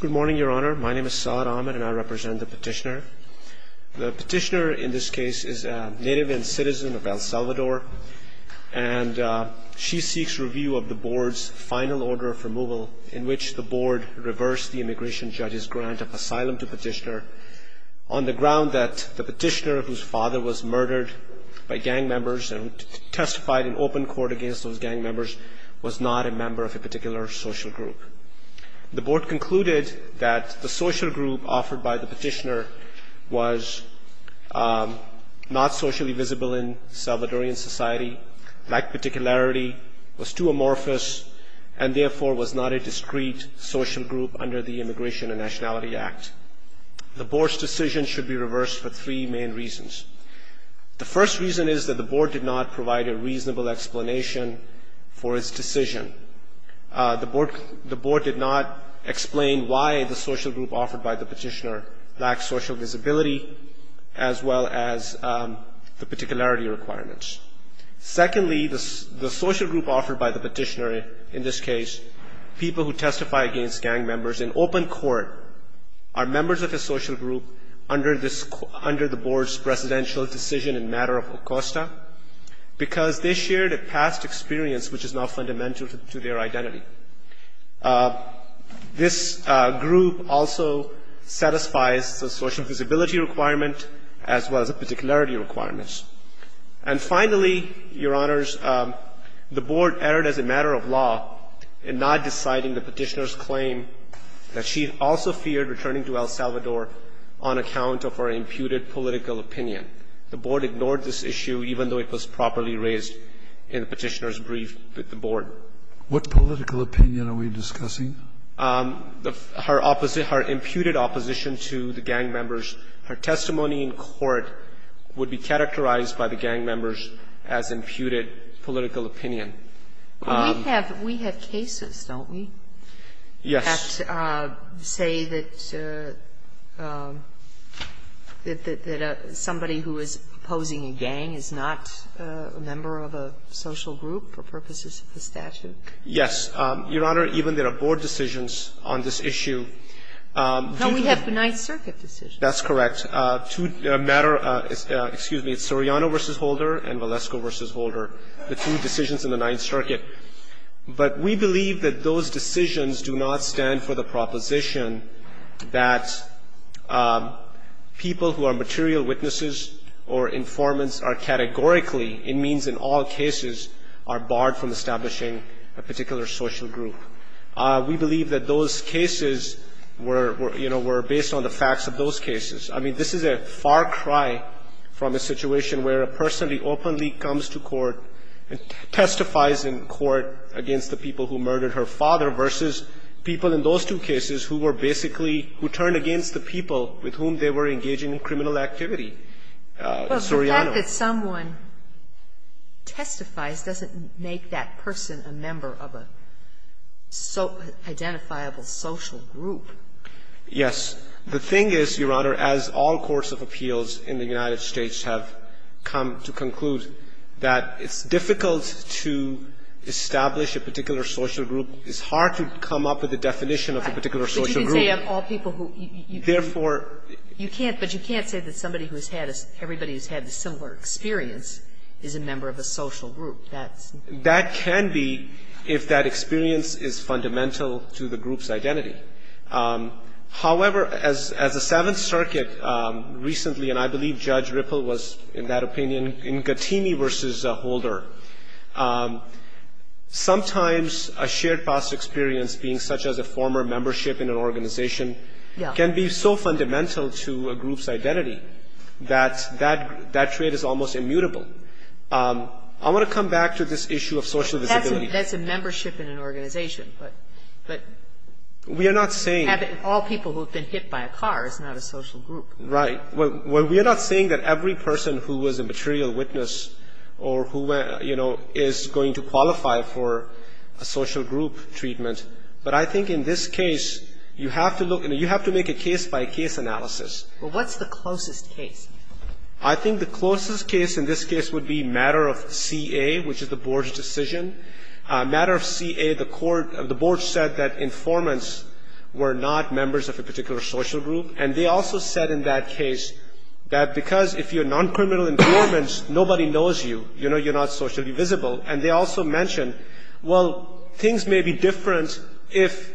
Good morning, Your Honor. My name is Saad Ahmed, and I represent the petitioner. The petitioner in this case is a native and citizen of El Salvador, and she seeks review of the board's final order of removal, in which the board reversed the immigration judge's grant of asylum to petitioner on the ground that the petitioner, whose father was murdered by gang members and testified in open court against those gang members, was not a member of a particular social group. The board concluded that the social group offered by the petitioner was not socially visible in Salvadorian society, lacked particularity, was too amorphous, and therefore was not a discrete social group under the Immigration and Nationality Act. The board's decision should be reversed for three main reasons. The first reason is that the board did not provide a reasonable explanation for its decision. The board did not explain why the social group offered by the petitioner lacked social visibility, as well as the particularity requirements. Secondly, the social group offered by the petitioner in this case, people who testify against gang members in open court, are members of the social group under the board's presidential decision in matter of ACOSTA, because they shared a past experience which is now fundamental to their identity. This group also satisfies the social visibility requirement, as well as the particularity requirements. And finally, Your Honors, the board erred as a matter of law in not deciding the petitioner's claim that she also feared returning to El Salvador on account of her imputed political opinion. The board ignored this issue, even though it was properly raised in the petitioner's brief with the board. Scalia, what political opinion are we discussing? Her opposite, her imputed opposition to the gang members. Her testimony in court would be characterized by the gang members as imputed political opinion. We have cases, don't we? Yes. Can we, in fact, say that somebody who is opposing a gang is not a member of a social group for purposes of the statute? Yes. Your Honor, even there are board decisions on this issue. No, we have the Ninth Circuit decision. That's correct. A matter of ‑‑ excuse me. It's Soriano v. Holder and Valesco v. Holder, the two decisions in the Ninth Circuit. But we believe that those decisions do not stand for the proposition that people who are material witnesses or informants are categorically, it means in all cases, are barred from establishing a particular social group. We believe that those cases were, you know, were based on the facts of those cases. I mean, this is a far cry from a situation where a person openly comes to court and testifies in court against the people who murdered her father versus people in those two cases who were basically ‑‑ who turned against the people with whom they were engaging in criminal activity, Soriano. But the fact that someone testifies doesn't make that person a member of an identifiable social group. Yes. The thing is, Your Honor, as all courts of appeals in the United States have come to conclude, that it's difficult to establish a particular social group. It's hard to come up with a definition of a particular social group. But you didn't say of all people who ‑‑ Therefore ‑‑ You can't. But you can't say that somebody who has had a ‑‑ everybody who has had a similar experience is a member of a social group. That's ‑‑ That can be if that experience is fundamental to the group's identity. However, as the Seventh Circuit recently, and I believe Judge Ripple was in that case, in Gattini versus Holder, sometimes a shared past experience being such as a former membership in an organization can be so fundamental to a group's identity that that trait is almost immutable. I want to come back to this issue of social visibility. That's a membership in an organization. But ‑‑ We are not saying ‑‑ All people who have been hit by a car is not a social group. Right. Well, we are not saying that every person who was a material witness or who, you know, is going to qualify for a social group treatment. But I think in this case, you have to look and you have to make a case-by-case analysis. Well, what's the closest case? I think the closest case in this case would be matter of CA, which is the board's decision. Matter of CA, the court ‑‑ the board said that informants were not members of a particular social group. And they also said in that case that because if you're noncriminal informants, nobody knows you. You know, you're not socially visible. And they also mentioned, well, things may be different if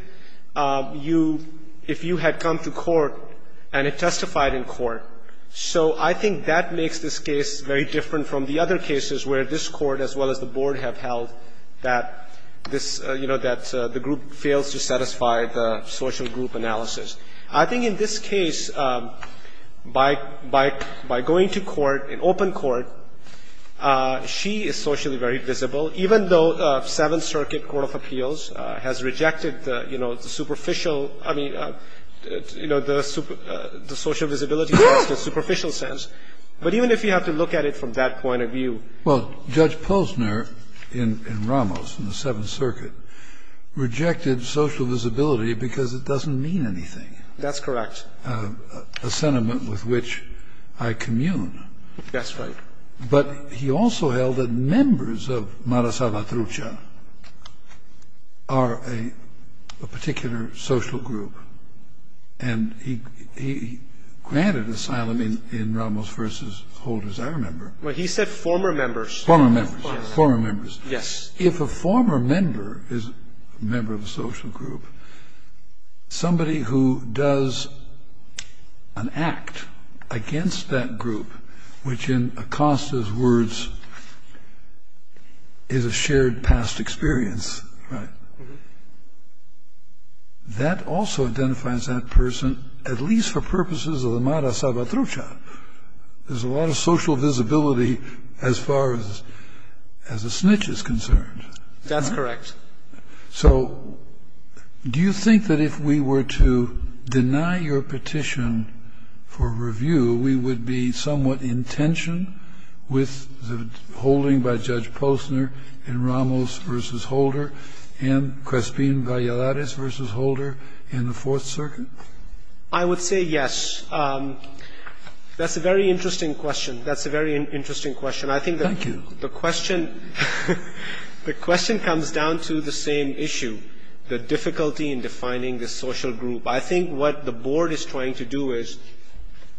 you had come to court and had testified in court. So I think that makes this case very different from the other cases where this court as well as the board have held that this, you know, that the group fails to satisfy the social group analysis. I think in this case, by going to court, in open court, she is socially very visible, even though Seventh Circuit Court of Appeals has rejected the, you know, the superficial ‑‑ I mean, you know, the social visibility test in a superficial sense. But even if you have to look at it from that point of view. Well, Judge Posner in Ramos in the Seventh Circuit rejected social visibility because it doesn't mean anything. That's correct. A sentiment with which I commune. That's right. But he also held that members of Mara Salvatrucha are a particular social group. And he granted asylum in Ramos v. Holders, I remember. Well, he said former members. Former members. Former members. Yes. If a former member is a member of a social group, somebody who does an act against that group, which in Acosta's words is a shared past experience, right, that also identifies that person, at least for purposes of the Mara Salvatrucha. There's a lot of social visibility as far as a snitch is concerned. That's correct. So do you think that if we were to deny your petition for review, we would be somewhat in tension with the holding by Judge Posner in Ramos v. Holder and Crespin Valladares v. Holder in the Fourth Circuit? I would say yes. That's a very interesting question. That's a very interesting question. Thank you. I think the question comes down to the same issue, the difficulty in defining the social group. I think what the Board is trying to do is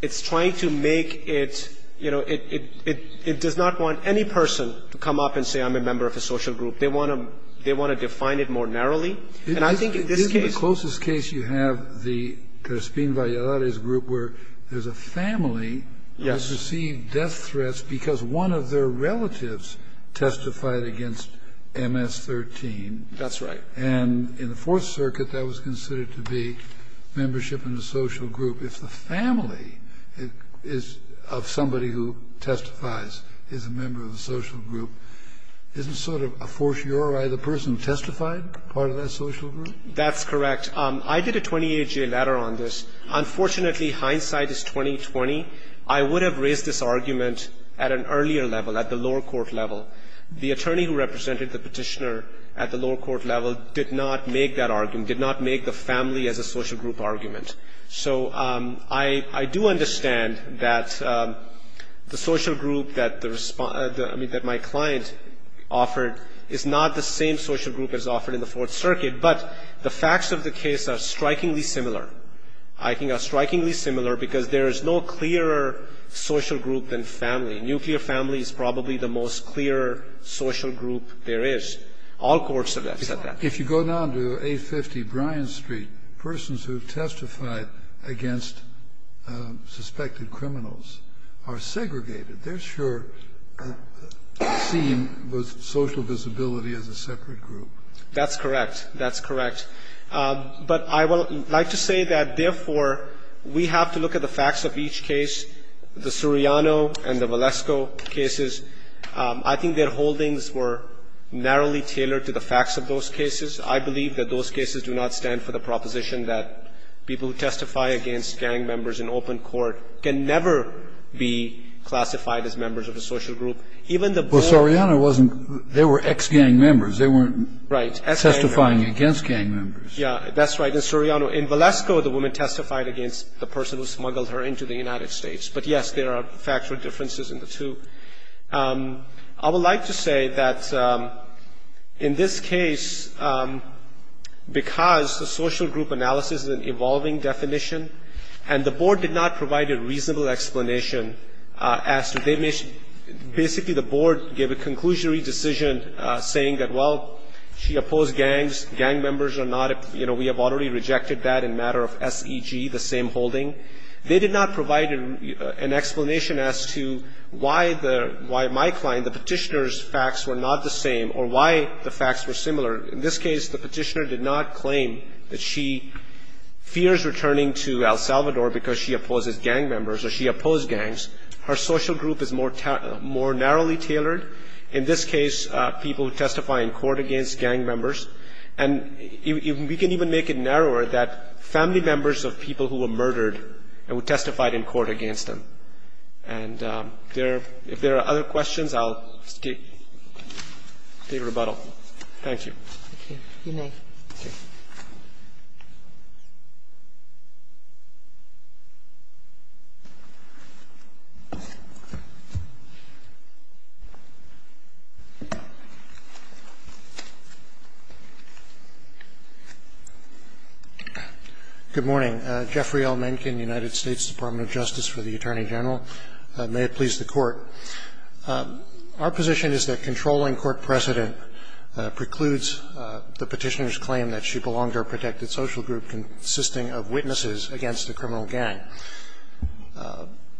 it's trying to make it, you know, it does not want any person to come up and say I'm a member of a social group. They want to define it more narrowly. And I think in this case. In the closest case you have the Crespin Valladares group where there's a family who has received death threats because one of their relatives testified against MS-13. That's right. And in the Fourth Circuit, that was considered to be membership in a social group. If the family is of somebody who testifies, is a member of a social group, isn't it sort of a fortiori the person testified, part of that social group? That's correct. I did a 28-J letter on this. Unfortunately, hindsight is 20-20. I would have raised this argument at an earlier level, at the lower court level. The attorney who represented the Petitioner at the lower court level did not make that argument, did not make the family as a social group argument. So I do understand that the social group that my client offered is not the same social group as offered in the Fourth Circuit, but the facts of the case are strikingly similar. I think they're strikingly similar because there is no clearer social group than family. Nuclear family is probably the most clear social group there is. All courts have said that. If you go down to 850 Bryan Street, persons who testified against suspected criminals are segregated. They're sure seen with social visibility as a separate group. That's correct. That's correct. But I would like to say that, therefore, we have to look at the facts of each case, the Suriano and the Valesco cases. I think their holdings were narrowly tailored to the facts of those cases. I believe that those cases do not stand for the proposition that people who testify against gang members in open court can never be classified as members of a social group, even the board. Well, Suriano wasn't. They were ex-gang members. They weren't testifying against gang members. Yeah, that's right. In Suriano. In Valesco, the woman testified against the person who smuggled her into the United States. But, yes, there are factual differences in the two. I would like to say that in this case, because the social group analysis is an evolving definition, and the board did not provide a reasonable explanation as to the image – basically the board gave a conclusionary decision saying that, well, she opposed gangs, gang members are not – you know, we have already rejected that in matter of SEG, the same holding. They did not provide an explanation as to why the – why my client, the Petitioner's facts were not the same or why the facts were similar. In this case, the Petitioner did not claim that she fears returning to El Salvador because she opposes gang members or she opposed gangs. Her social group is more narrowly tailored. In this case, people who testify in court against gang members. And we can even make it narrower that family members of people who were murdered and who testified in court against them. And if there are other questions, I'll take rebuttal. Thank you. Thank you. You may. Thank you. Good morning. Jeffrey L. Mencken, United States Department of Justice for the Attorney General. May it please the Court. Our position is that controlling court precedent precludes the Petitioner's claim that she belonged to a protected social group consisting of witnesses against a criminal gang.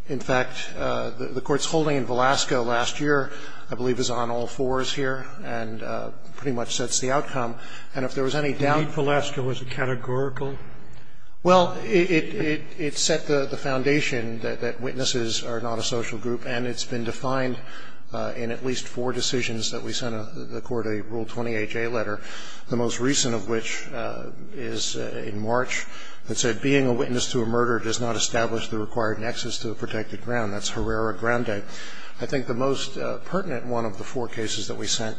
In fact, the Court's holding in Velasco last year, I believe, is on all fours here and pretty much sets the outcome. And if there was any doubt of that. You mean Velasco was categorical? Well, it set the foundation that witnesses are not a social group and it's been defined in at least four decisions that we sent the Court a Rule 28J letter, the most recent of which is in March that said being a witness to a murder does not establish the required nexus to the protected ground. That's Herrera-Grande. I think the most pertinent one of the four cases that we sent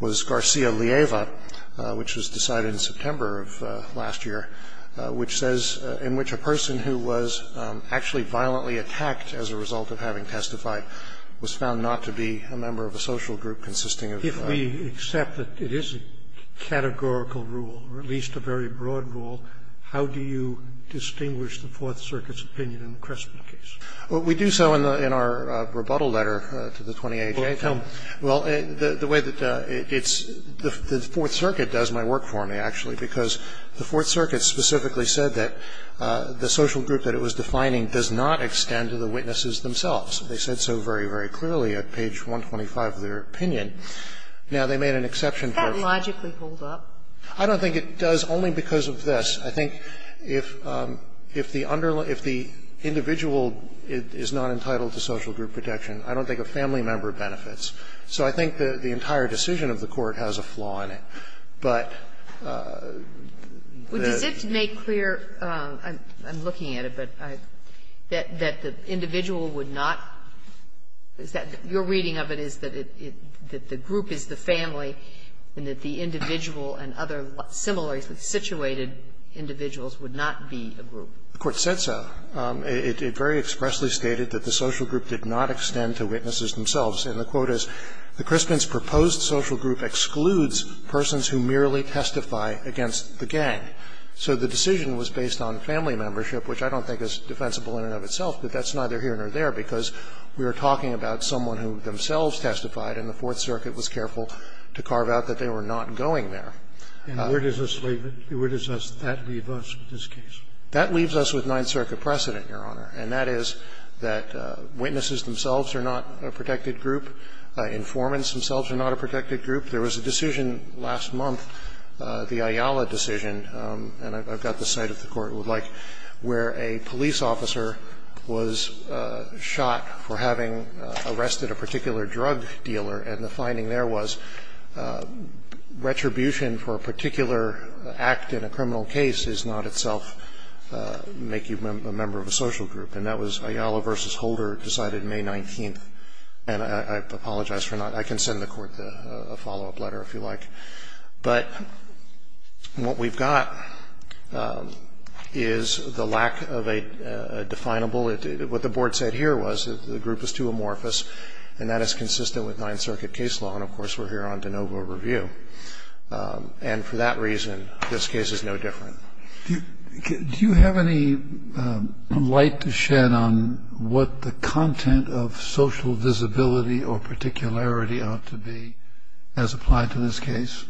was Garcia-Lieva, which was decided in September of last year, which says in which a person who was actually violently attacked as a result of having testified was found not to be a member of a social group consisting of witnesses. If we accept that it is a categorical rule or at least a very broad rule, how do you distinguish the Fourth Circuit's opinion in the Cressman case? Well, we do so in our rebuttal letter to the 28th. Well, tell me. Well, the way that it's the Fourth Circuit does my work for me, actually, because the Fourth Circuit specifically said that the social group that it was defining does not extend to the witnesses themselves. They said so very, very clearly at page 125 of their opinion. Now, they made an exception for me. Is that logically pulled up? I don't think it does, only because of this. I think if the individual is not entitled to social group protection, I don't think a family member benefits. So I think the entire decision of the Court has a flaw in it. But the question is, does it make clear, I'm looking at it, but that the individual would not, is that your reading of it is that the group is the family and that the individual and other similarly situated individuals would not be a group? The Court said so. It very expressly stated that the social group did not extend to witnesses themselves. And the quote is, the Crispin's proposed social group excludes persons who merely testify against the gang. So the decision was based on family membership, which I don't think is defensible in and of itself, but that's neither here nor there, because we are talking about someone who themselves testified and the Fourth Circuit was careful to carve out that they were not going there. And where does that leave us with this case? That leaves us with Ninth Circuit precedent, Your Honor. And that is that witnesses themselves are not a protected group. Informants themselves are not a protected group. There was a decision last month, the Ayala decision, and I've got the site if the Court would like, where a police officer was shot for having arrested a particular drug dealer, and the finding there was retribution for a particular act in a criminal case is not itself make you a member of a social group. And that was Ayala v. Holder decided May 19th. And I apologize for not ‑‑ I can send the Court a follow-up letter if you like. But what we've got is the lack of a definable ‑‑ what the Board said here was the group is too amorphous, and that is consistent with Ninth Circuit case law. And, of course, we're here on de novo review. And for that reason, this case is no different. Do you have any light to shed on what the content of social visibility or particularity ought to be as applied to this case?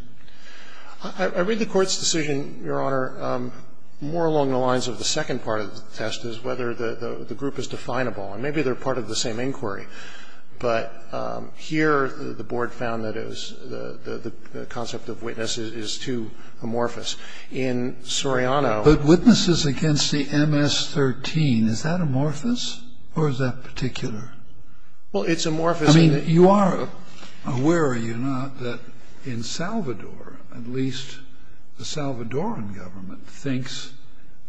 I read the Court's decision, Your Honor, more along the lines of the second part of the test is whether the group is definable. And maybe they're part of the same inquiry. But here the Board found that the concept of witness is too amorphous. In Soriano ‑‑ But witnesses against the MS-13, is that amorphous or is that particular? Well, it's amorphous. I mean, you are aware, are you not, that in Salvador, at least the Salvadoran government thinks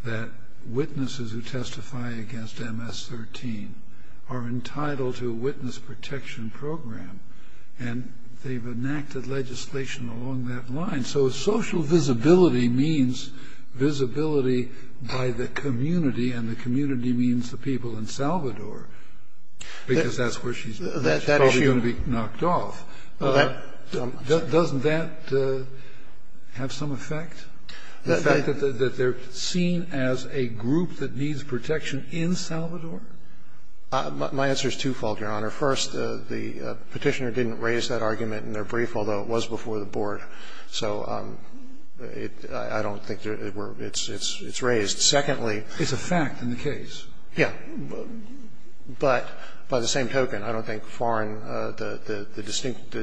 that witnesses who testify against MS-13 are entitled to a witness protection program. And they've enacted legislation along that line. So social visibility means visibility by the community, and the community means the people in Salvador. Because that's where she's going to be knocked off. Doesn't that have some effect? The fact that they're seen as a group that needs protection in Salvador? My answer is twofold, Your Honor. First, the Petitioner didn't raise that argument in their brief, although it was before the Board. So I don't think it's raised. Secondly ‑‑ It's a fact in the case. Yes. But by the same token, I don't think foreign ‑‑ the distinct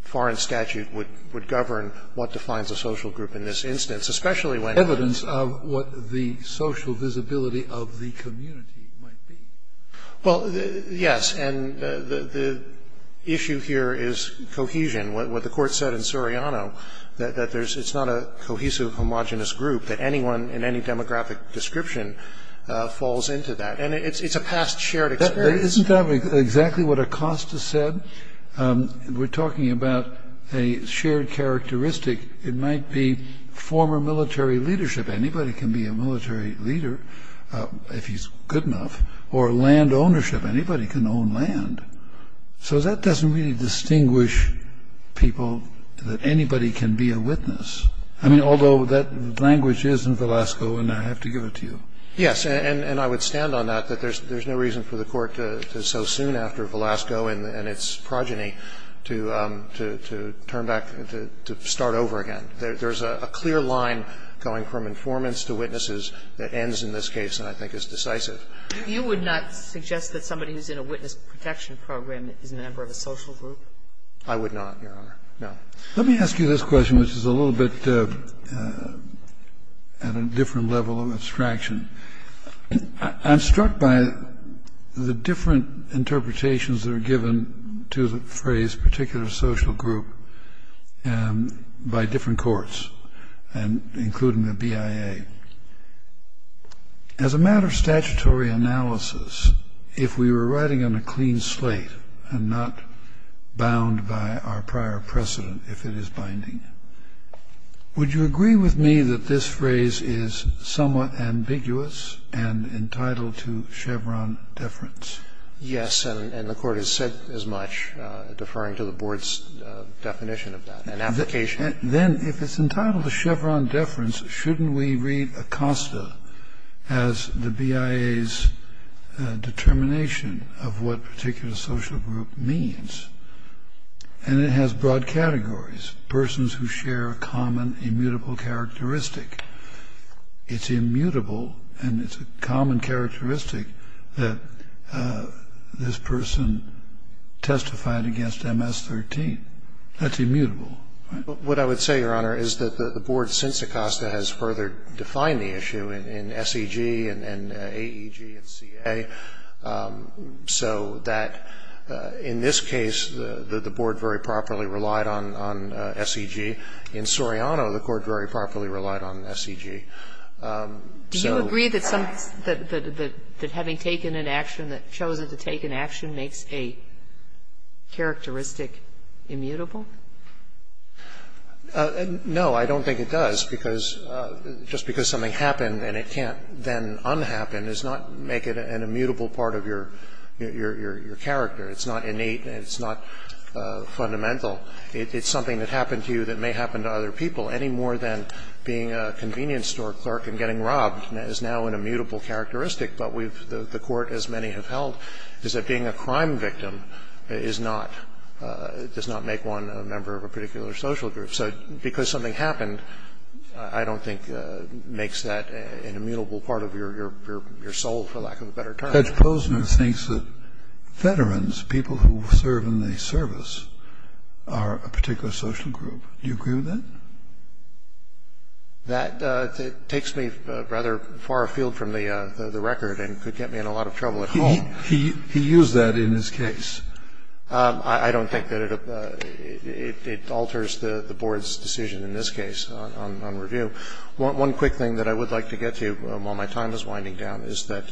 foreign statute would govern what defines a social group in this instance, especially when ‑‑ Evidence of what the social visibility of the community might be. Well, yes. And the issue here is cohesion. What the Court said in Suriano, that it's not a cohesive, homogeneous group, that anyone in any demographic description falls into that. And it's a past shared experience. Isn't that exactly what Acosta said? We're talking about a shared characteristic. It might be former military leadership. Anybody can be a military leader if he's good enough. Or land ownership. Anybody can own land. So that doesn't really distinguish people that anybody can be a witness. I mean, although that language is in Velasco, and I have to give it to you. Yes, and I would stand on that, that there's no reason for the Court to so soon after to turn back, to start over again. There's a clear line going from informants to witnesses that ends in this case, and I think is decisive. You would not suggest that somebody who's in a witness protection program is a member of a social group? I would not, Your Honor. No. Let me ask you this question, which is a little bit at a different level of abstraction. I'm struck by the different interpretations that are given to the phrase particular social group by different courts, including the BIA. As a matter of statutory analysis, if we were writing on a clean slate and not bound by our prior precedent, if it is binding, would you agree with me that this phrase is somewhat ambiguous and entitled to Chevron deference? Yes, and the Court has said as much, deferring to the Board's definition of that and application. Then if it's entitled to Chevron deference, shouldn't we read Acosta as the BIA's determination of what particular social group means? And it has broad categories, persons who share a common immutable characteristic. It's immutable, and it's a common characteristic that this person testified against MS-13. That's immutable. What I would say, Your Honor, is that the Board, since Acosta, has further defined the issue in SEG and AEG and CA, so that in this case, the Board very properly relied on SEG. In Soriano, the Court very properly relied on SEG. Do you agree that having taken an action, that having chosen to take an action makes a characteristic immutable? No, I don't think it does, because just because something happened and it can't then unhappen does not make it an immutable part of your character. It's not innate. It's not fundamental. It's something that happened to you that may happen to other people, any more than being a convenience store clerk and getting robbed is now an immutable characteristic. But the Court, as many have held, is that being a crime victim does not make one a member of a particular social group. So because something happened, I don't think makes that an immutable part of your soul, for lack of a better term. Judge Posner thinks that veterans, people who serve in the service, are a particular social group. Do you agree with that? That takes me rather far afield from the record and could get me in a lot of trouble at home. He used that in his case. I don't think that it alters the Board's decision in this case on review. One quick thing that I would like to get to while my time is winding down is that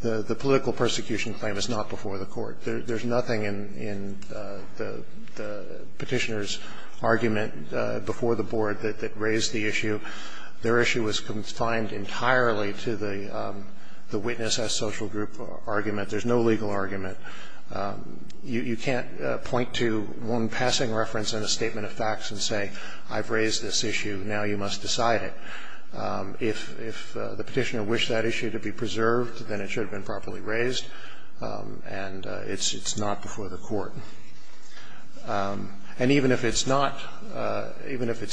the political persecution claim is not before the Court. There's nothing in the Petitioner's argument before the Board that raised the issue. Their issue was confined entirely to the witness as social group argument. There's no legal argument. You can't point to one passing reference in a statement of facts and say, I've raised this issue, now you must decide it. If the Petitioner wished that issue to be preserved, then it should have been properly raised, and it's not before the Court. And even if it's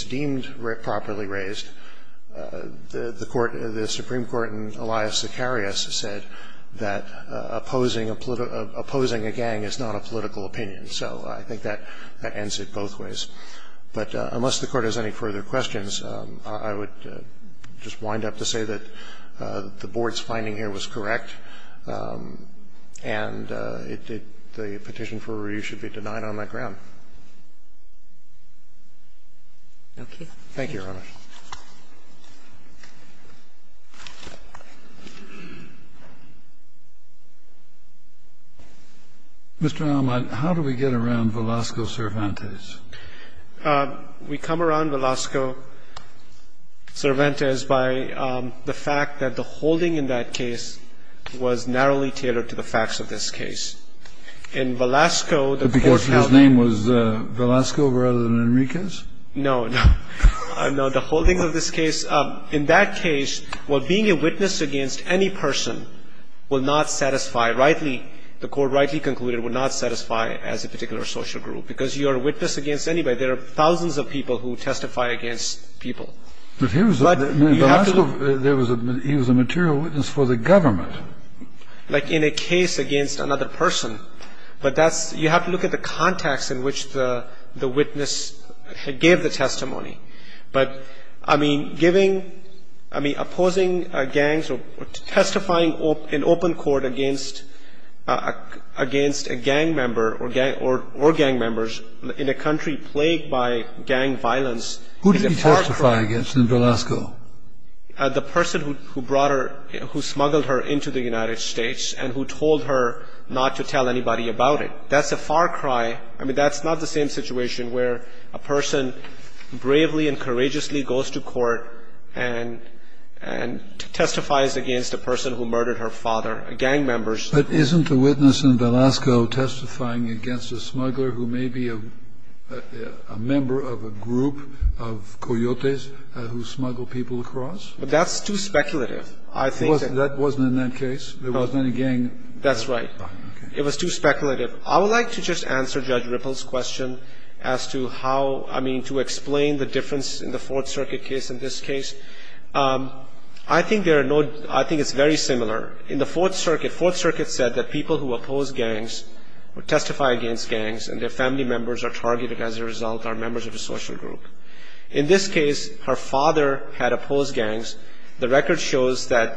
deemed properly raised, the Supreme Court in Elias Sicarius said that opposing a gang is not a political opinion, so I think that ends it both ways. But unless the Court has any further questions, I would just wind up to say that the Board's finding here was correct, and the petition for review should be denied on that ground. Thank you, Your Honor. Mr. Allman, how do we get around Velasco-Cervantes? We come around Velasco-Cervantes by the fact that the holding in that case was narrowly tailored to the facts of this case. In Velasco, the Court held that the holding in that case was narrowly tailored to the facts of this case. In that case, while being a witness against any person will not satisfy, rightly, the Court rightly concluded, would not satisfy as a particular social group, because you are a witness against anybody. There are thousands of people who testify against people. But he was a material witness for the government. Like in a case against another person, but that's, you have to look at the context in which the witness gave the testimony. But, I mean, giving, I mean, opposing gangs or testifying in open court against a gang member or gang members in a country plagued by gang violence is a far cry. Who did he testify against in Velasco? The person who brought her, who smuggled her into the United States and who told her not to tell anybody about it. That's a far cry. I mean, that's not the same situation where a person bravely and courageously goes to court and testifies against a person who murdered her father, gang members. But isn't a witness in Velasco testifying against a smuggler who may be a member of a group of coyotes who smuggle people across? But that's too speculative. I think that That wasn't in that case? No. There wasn't any gang? That's right. It was too speculative. I would like to just answer Judge Ripple's question as to how, I mean, to explain the difference in the Fourth Circuit case in this case. I think there are no, I think it's very similar. In the Fourth Circuit, Fourth Circuit said that people who oppose gangs or testify against gangs and their family members are targeted as a result, are members of a social group. In this case, her father had opposed gangs. The record shows that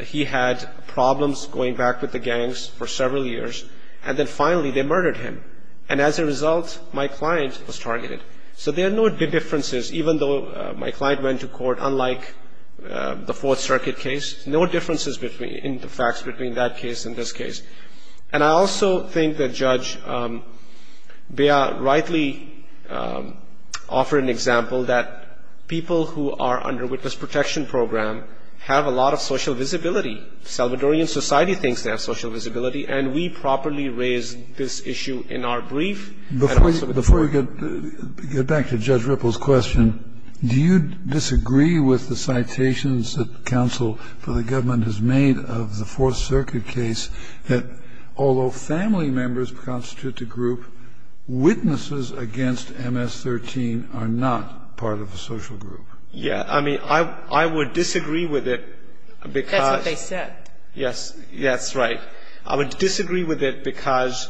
he had problems going back with the gangs for several years and then finally they murdered him. And as a result, my client was targeted. So there are no differences, even though my client went to court, unlike the Fourth Circuit case. No differences in the facts between that case and this case. And I also think that Judge Bea rightly offered an example that people who are under witness protection program have a lot of social visibility. Salvadorian society thinks they have social visibility, and we properly raised this issue in our brief. Before we get back to Judge Ripple's question, do you disagree with the citations that counsel for the government has made of the Fourth Circuit case that although family members constitute the group, witnesses against MS-13 are not part of a social group? Yeah. I mean, I would disagree with it because That's what they said. Yes. That's right. I would disagree with it because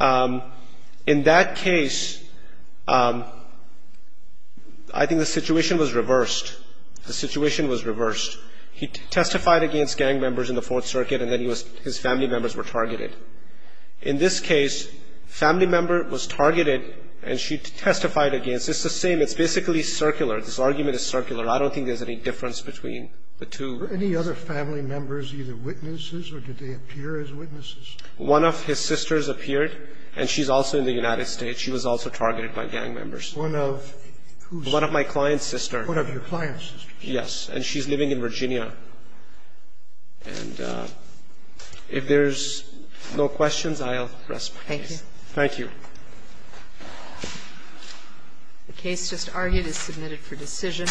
in that case, I think the situation was reversed. The situation was reversed. He testified against gang members in the Fourth Circuit, and then his family members were targeted. In this case, family member was targeted, and she testified against. It's the same. It's basically circular. This argument is circular. I don't think there's any difference between the two. Were any other family members either witnesses, or did they appear as witnesses? One of his sisters appeared, and she's also in the United States. She was also targeted by gang members. One of whose? One of my client's sister. One of your client's sister. Yes. And she's living in Virginia. And if there's no questions, I'll rest my case. Thank you. Thank you. The case just argued is submitted for decision.